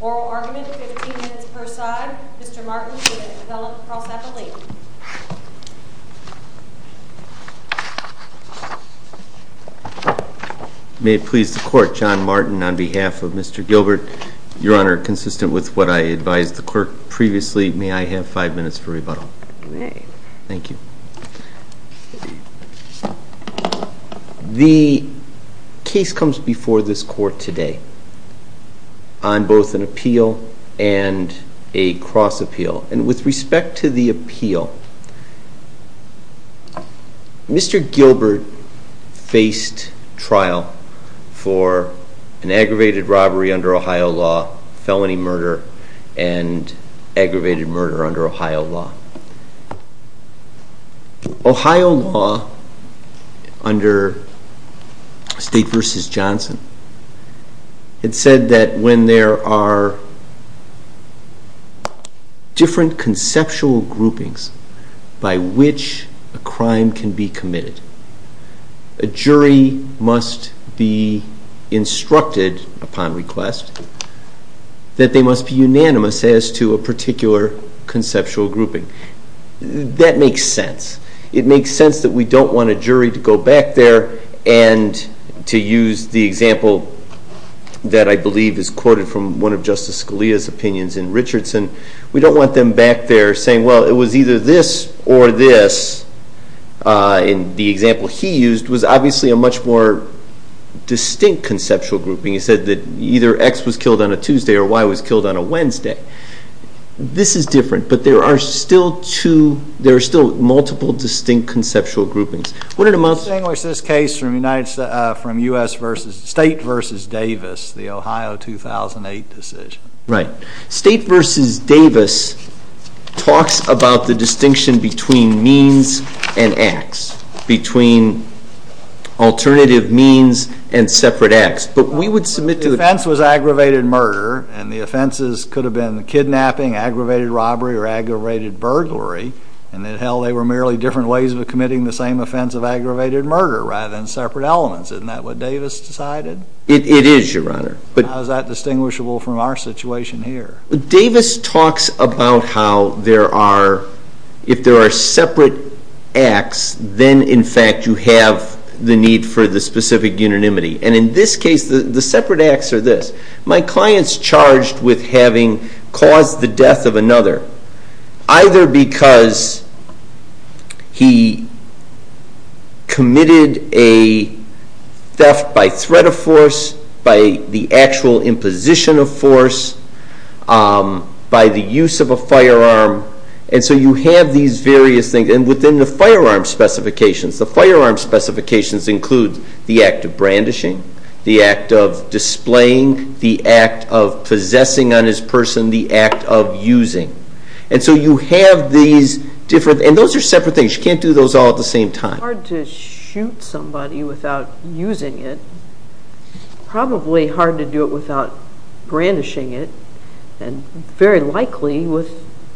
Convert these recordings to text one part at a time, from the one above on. Oral argument, 15 minutes per side. Mr. Martin with an appellate cross-appellate. May it please the Court, John Martin on behalf of Mr. Gilbert. Your Honor, consistent with what I advised the Court previously, may I have five minutes for rebuttal? You may. Thank you. The case comes before this Court today on both an appeal and a cross-appeal. And with respect to the appeal, Mr. Gilbert faced trial for an aggravated robbery under Ohio law, felony murder, and aggravated murder under Ohio law. Ohio law under State v. Johnson, it said that when there are different conceptual groupings by which a crime can be committed, a jury must be instructed upon request that they must be unanimous as to a particular conceptual grouping. That makes sense. It makes sense that we don't want a jury to go back there and, to use the example that I believe is quoted from one of Justice Scalia's opinions in Richardson, we don't want them back there saying, well, it was either this or this, and the example he used was obviously a much more distinct conceptual grouping. He said that either X was killed on a Tuesday or Y was killed on a Wednesday. This is different, but there are still multiple distinct conceptual groupings. I distinguish this case from State v. Davis, the Ohio 2008 decision. Right. State v. Davis talks about the distinction between means and acts, between alternative means and separate acts. The offense was aggravated murder, and the offenses could have been kidnapping, aggravated robbery, or aggravated burglary, and, hell, they were merely different ways of committing the same offense of aggravated murder rather than separate elements. Isn't that what Davis decided? It is, Your Honor. How is that distinguishable from our situation here? Davis talks about how if there are separate acts, then, in fact, you have the need for the specific unanimity. And in this case, the separate acts are this. My client's charged with having caused the death of another, either because he committed a theft by threat of force, by the actual imposition of force, by the use of a firearm. And so you have these various things. And within the firearm specifications, the firearm specifications include the act of brandishing, the act of displaying, the act of possessing on his person, the act of using. And so you have these different – and those are separate things. You can't do those all at the same time. It's hard to shoot somebody without using it. It's probably hard to do it without brandishing it, and very likely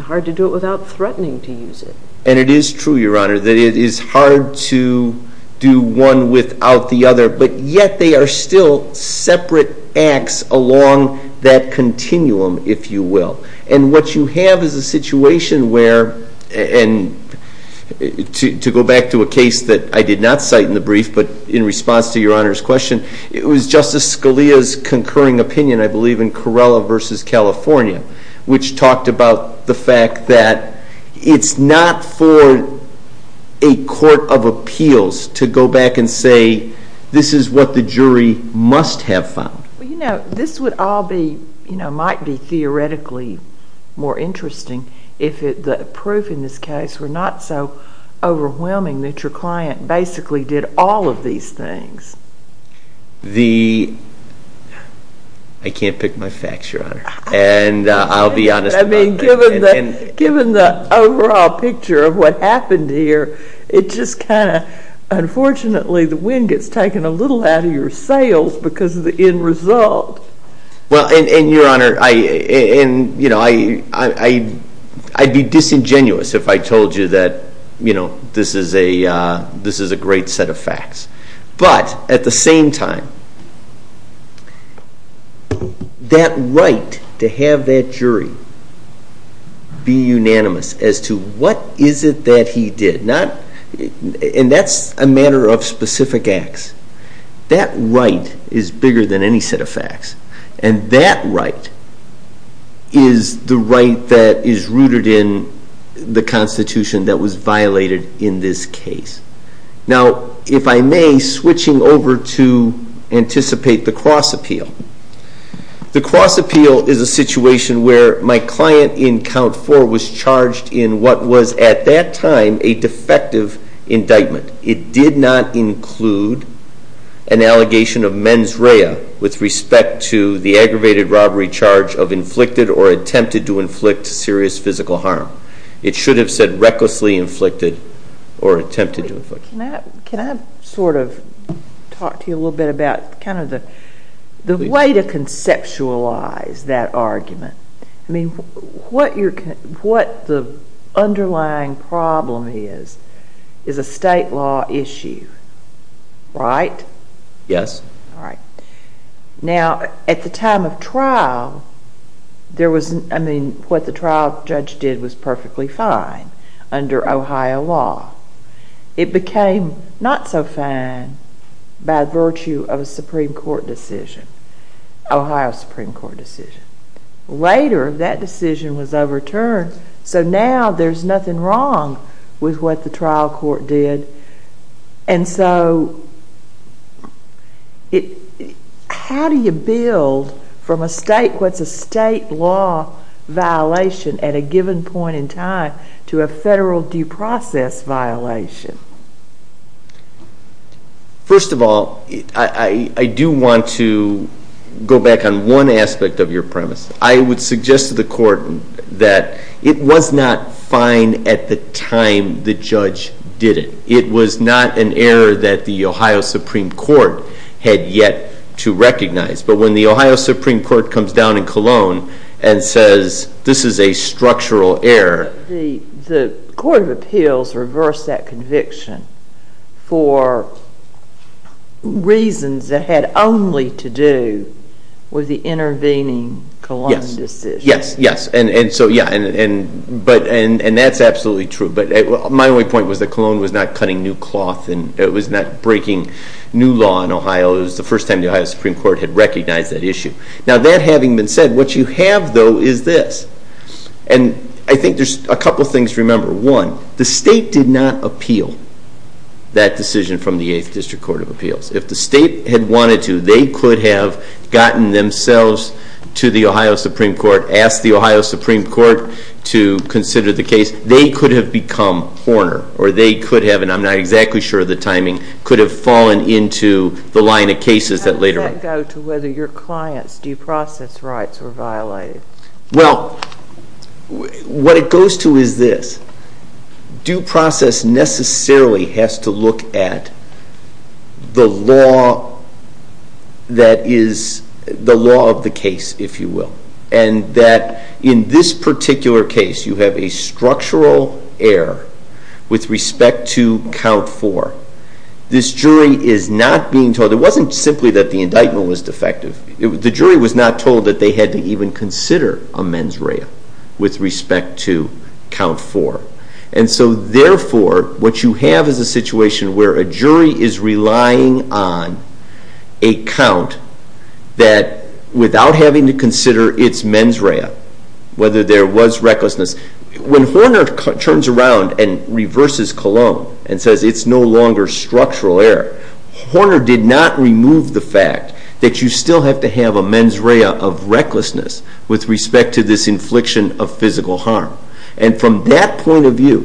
hard to do it without threatening to use it. And it is true, Your Honor, that it is hard to do one without the other, but yet they are still separate acts along that continuum, if you will. And what you have is a situation where – and to go back to a case that I did not cite in the brief, but in response to Your Honor's question, it was Justice Scalia's concurring opinion, I believe, in Corrella v. California, which talked about the fact that it's not for a court of appeals to go back and say this is what the jury must have found. You know, this would all be – might be theoretically more interesting if the proof in this case were not so overwhelming that your client basically did all of these things. The – I can't pick my facts, Your Honor. And I'll be honest about that. I mean, given the overall picture of what happened here, it just kind of – unfortunately the wind gets taken a little out of your sails because of the end result. Well, and Your Honor, I – and, you know, I'd be disingenuous if I told you that, you know, this is a great set of facts. But at the same time, that right to have that jury be unanimous as to what is it that he did, not – and that's a matter of specific acts. That right is bigger than any set of facts. And that right is the right that is rooted in the Constitution that was violated in this case. Now, if I may, switching over to anticipate the cross appeal. The cross appeal is a situation where my client in Count 4 was charged in what was at that time a defective indictment. It did not include an allegation of mens rea with respect to the aggravated robbery charge of inflicted or attempted to inflict serious physical harm. It should have said recklessly inflicted or attempted to inflict. Can I sort of talk to you a little bit about kind of the way to conceptualize that argument? I mean, what the underlying problem is, is a state law issue, right? Yes. All right. Now, at the time of trial, there was – I mean, what the trial judge did was perfectly fine under Ohio law. It became not so fine by virtue of a Supreme Court decision, Ohio Supreme Court decision. Later, that decision was overturned, so now there's nothing wrong with what the trial court did. And so how do you build from a state – what's a state law violation at a given point in time to a federal due process violation? First of all, I do want to go back on one aspect of your premise. I would suggest to the court that it was not fine at the time the judge did it. It was not an error that the Ohio Supreme Court had yet to recognize. But when the Ohio Supreme Court comes down in Cologne and says, this is a structural error. The court of appeals reversed that conviction for reasons that had only to do with the intervening Cologne decision. Yes, yes. And so, yeah, and that's absolutely true. But my only point was that Cologne was not cutting new cloth and it was not breaking new law in Ohio. It was the first time the Ohio Supreme Court had recognized that issue. Now, that having been said, what you have, though, is this. And I think there's a couple things to remember. One, the state did not appeal that decision from the 8th District Court of Appeals. If the state had wanted to, they could have gotten themselves to the Ohio Supreme Court, asked the Ohio Supreme Court to consider the case. They could have become Horner or they could have, and I'm not exactly sure of the timing, could have fallen into the line of cases that later – How does that go to whether your client's due process rights were violated? Well, what it goes to is this. Due process necessarily has to look at the law that is the law of the case, if you will, and that in this particular case you have a structural error with respect to count four. This jury is not being told. It wasn't simply that the indictment was defective. The jury was not told that they had to even consider a mens rea with respect to count four. And so, therefore, what you have is a situation where a jury is relying on a count that without having to consider its mens rea, whether there was recklessness. When Horner turns around and reverses Cologne and says it's no longer structural error, Horner did not remove the fact that you still have to have a mens rea of recklessness with respect to this infliction of physical harm. And from that point of view,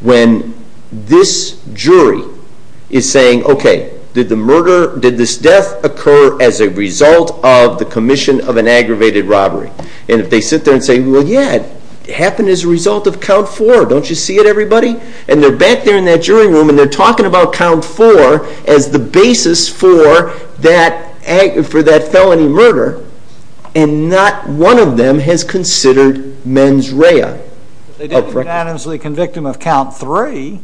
when this jury is saying, okay, did this death occur as a result of the commission of an aggravated robbery? And if they sit there and say, well, yeah, it happened as a result of count four. Don't you see it, everybody? And they're back there in that jury room and they're talking about count four as the basis for that felony murder, and not one of them has considered mens rea. They didn't unanimously convict him of count three,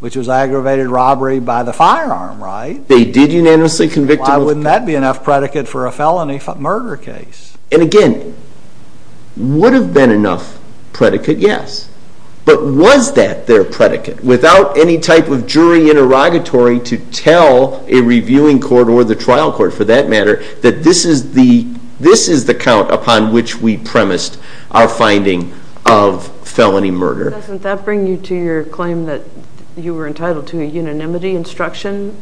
which was aggravated robbery by the firearm, right? They did unanimously convict him of count three. Why wouldn't that be enough predicate for a felony murder case? And, again, would have been enough predicate, yes. But was that their predicate? Without any type of jury interrogatory to tell a reviewing court or the trial court, for that matter, that this is the count upon which we premised our finding of felony murder. Doesn't that bring you to your claim that you were entitled to a unanimity instruction?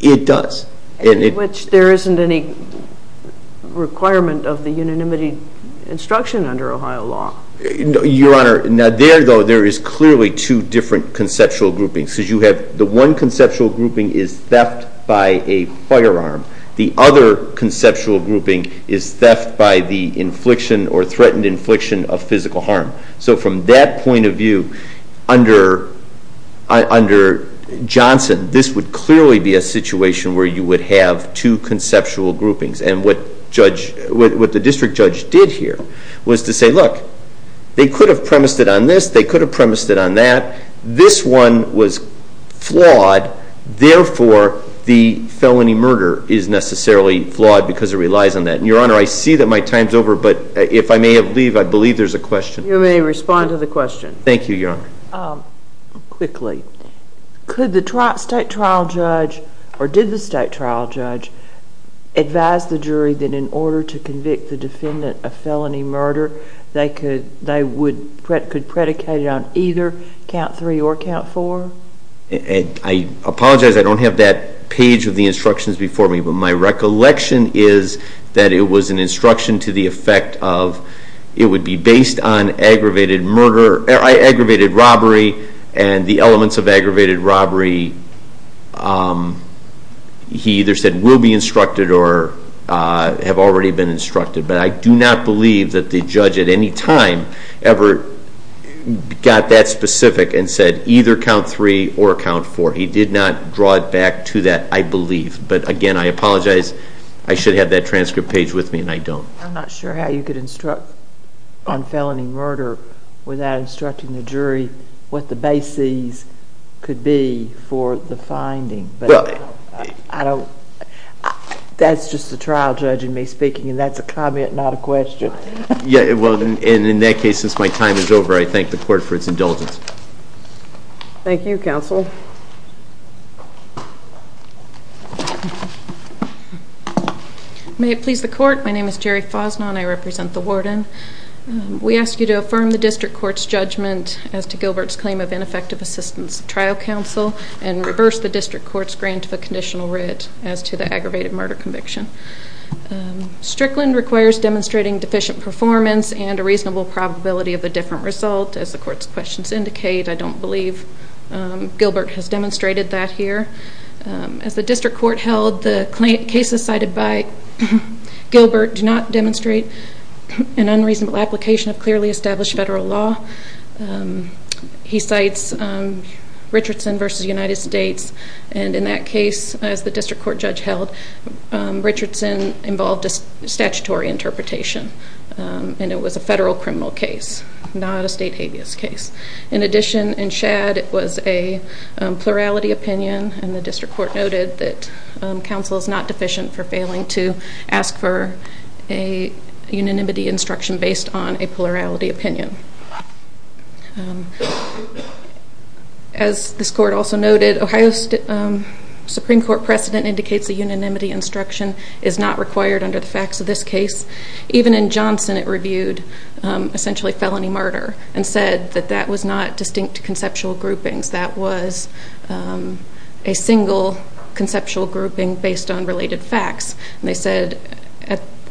It does. In which there isn't any requirement of the unanimity instruction under Ohio law. Your Honor, there, though, there is clearly two different conceptual groupings. The one conceptual grouping is theft by a firearm. The other conceptual grouping is theft by the infliction or threatened infliction of physical harm. So from that point of view, under Johnson, this would clearly be a situation where you would have two conceptual groupings. And what the district judge did here was to say, look, they could have premised it on this. They could have premised it on that. This one was flawed. Therefore, the felony murder is necessarily flawed because it relies on that. Your Honor, I see that my time's over. But if I may leave, I believe there's a question. You may respond to the question. Thank you, Your Honor. Quickly, could the state trial judge or did the state trial judge advise the jury that in order to convict the defendant of felony murder, they could predicate it on either count three or count four? I apologize. I don't have that page of the instructions before me. My recollection is that it was an instruction to the effect of it would be based on aggravated robbery and the elements of aggravated robbery. He either said will be instructed or have already been instructed. But I do not believe that the judge at any time ever got that specific and said either count three or count four. He did not draw it back to that, I believe. But again, I apologize. I should have that transcript page with me, and I don't. I'm not sure how you could instruct on felony murder without instructing the jury what the bases could be for the finding. That's just the trial judge and me speaking, and that's a comment, not a question. In that case, since my time is over, I thank the court for its indulgence. Thank you, counsel. May it please the court. My name is Jerry Fosnaugh, and I represent the warden. We ask you to affirm the district court's judgment as to Gilbert's claim of ineffective assistance to trial counsel and reverse the district court's grant of a conditional writ as to the aggravated murder conviction. Strickland requires demonstrating deficient performance and a reasonable probability of a different result. As the court's questions indicate, I don't believe Gilbert has demonstrated that here. As the district court held, the cases cited by Gilbert do not demonstrate an unreasonable application of clearly established federal law. He cites Richardson v. United States. And in that case, as the district court judge held, Richardson involved a statutory interpretation, and it was a federal criminal case, not a state habeas case. In addition, in Shadd, it was a plurality opinion, and the district court noted that counsel is not deficient for failing to ask for a unanimity instruction based on a plurality opinion. As this court also noted, Ohio's Supreme Court precedent indicates a unanimity instruction is not required under the facts of this case. Even in Johnson, it reviewed essentially felony murder and said that that was not distinct conceptual groupings. That was a single conceptual grouping based on related facts. And they said,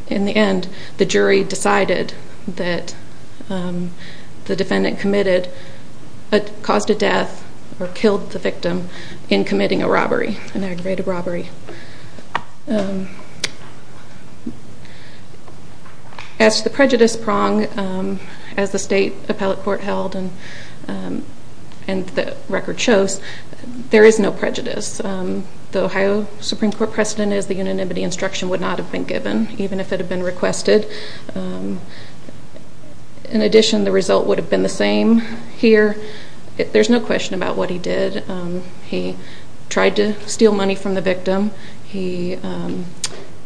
in the end, the jury decided that the defendant committed a cause to death or killed the victim in committing a robbery, an aggravated robbery. As to the prejudice prong, as the state appellate court held and the record shows, there is no prejudice. The Ohio Supreme Court precedent is the unanimity instruction would not have been given, even if it had been requested. In addition, the result would have been the same here. There's no question about what he did. He tried to steal money from the victim. He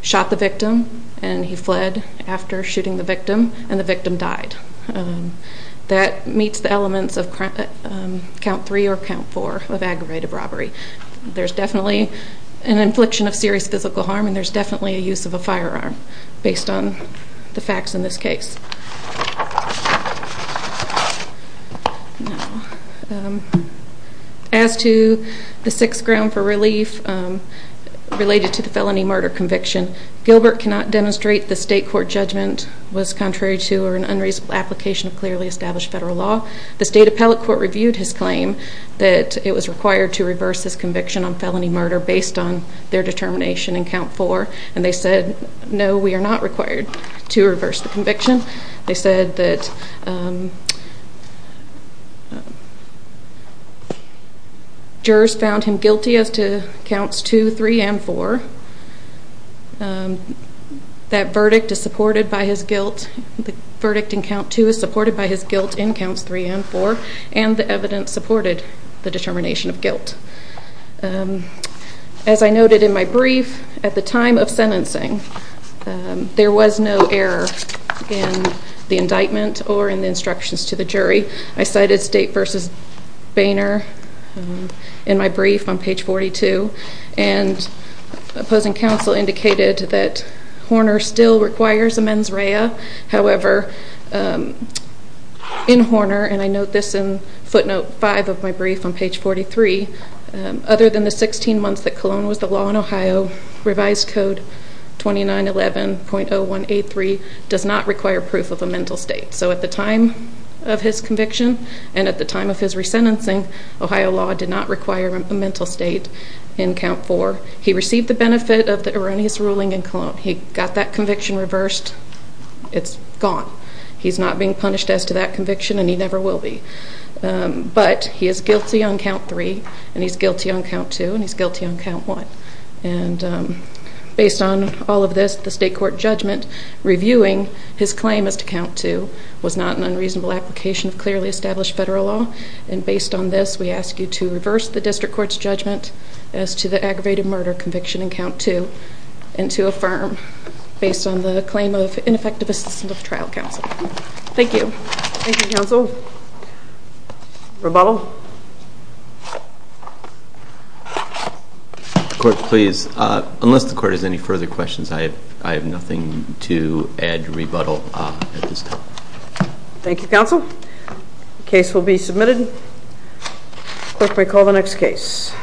shot the victim, and he fled after shooting the victim, and the victim died. That meets the elements of count three or count four of aggravated robbery. There's definitely an infliction of serious physical harm, and there's definitely a use of a firearm based on the facts in this case. Now, as to the sixth ground for relief related to the felony murder conviction, Gilbert cannot demonstrate the state court judgment was contrary to or an unreasonable application of clearly established federal law. The state appellate court reviewed his claim that it was required to reverse his conviction on felony murder based on their determination in count four, and they said, no, we are not required to reverse the conviction. They said that jurors found him guilty as to counts two, three, and four. That verdict is supported by his guilt. The verdict in count two is supported by his guilt in counts three and four, and the evidence supported the determination of guilt. As I noted in my brief, at the time of sentencing, there was no error in the indictment or in the instructions to the jury. I cited State v. Boehner in my brief on page 42, and opposing counsel indicated that Horner still requires a mens rea. However, in Horner, and I note this in footnote five of my brief on page 43, other than the 16 months that Colon was the law in Ohio, revised code 2911.0183 does not require proof of a mental state. So at the time of his conviction and at the time of his resentencing, Ohio law did not require a mental state in count four. He received the benefit of the erroneous ruling in Colon. He got that conviction reversed. It's gone. He's not being punished as to that conviction, and he never will be. But he is guilty on count three, and he's guilty on count two, and he's guilty on count one. And based on all of this, the state court judgment reviewing his claim as to count two was not an unreasonable application of clearly established federal law. And based on this, we ask you to reverse the district court's judgment as to the aggravated murder conviction in count two and to affirm based on the claim of ineffective assistance of the trial counsel. Thank you. Thank you, counsel. Thank you. Rebuttal? Clerk, please. Unless the court has any further questions, I have nothing to add to rebuttal at this time. Thank you, counsel. Case will be submitted. Clerk may call the next case.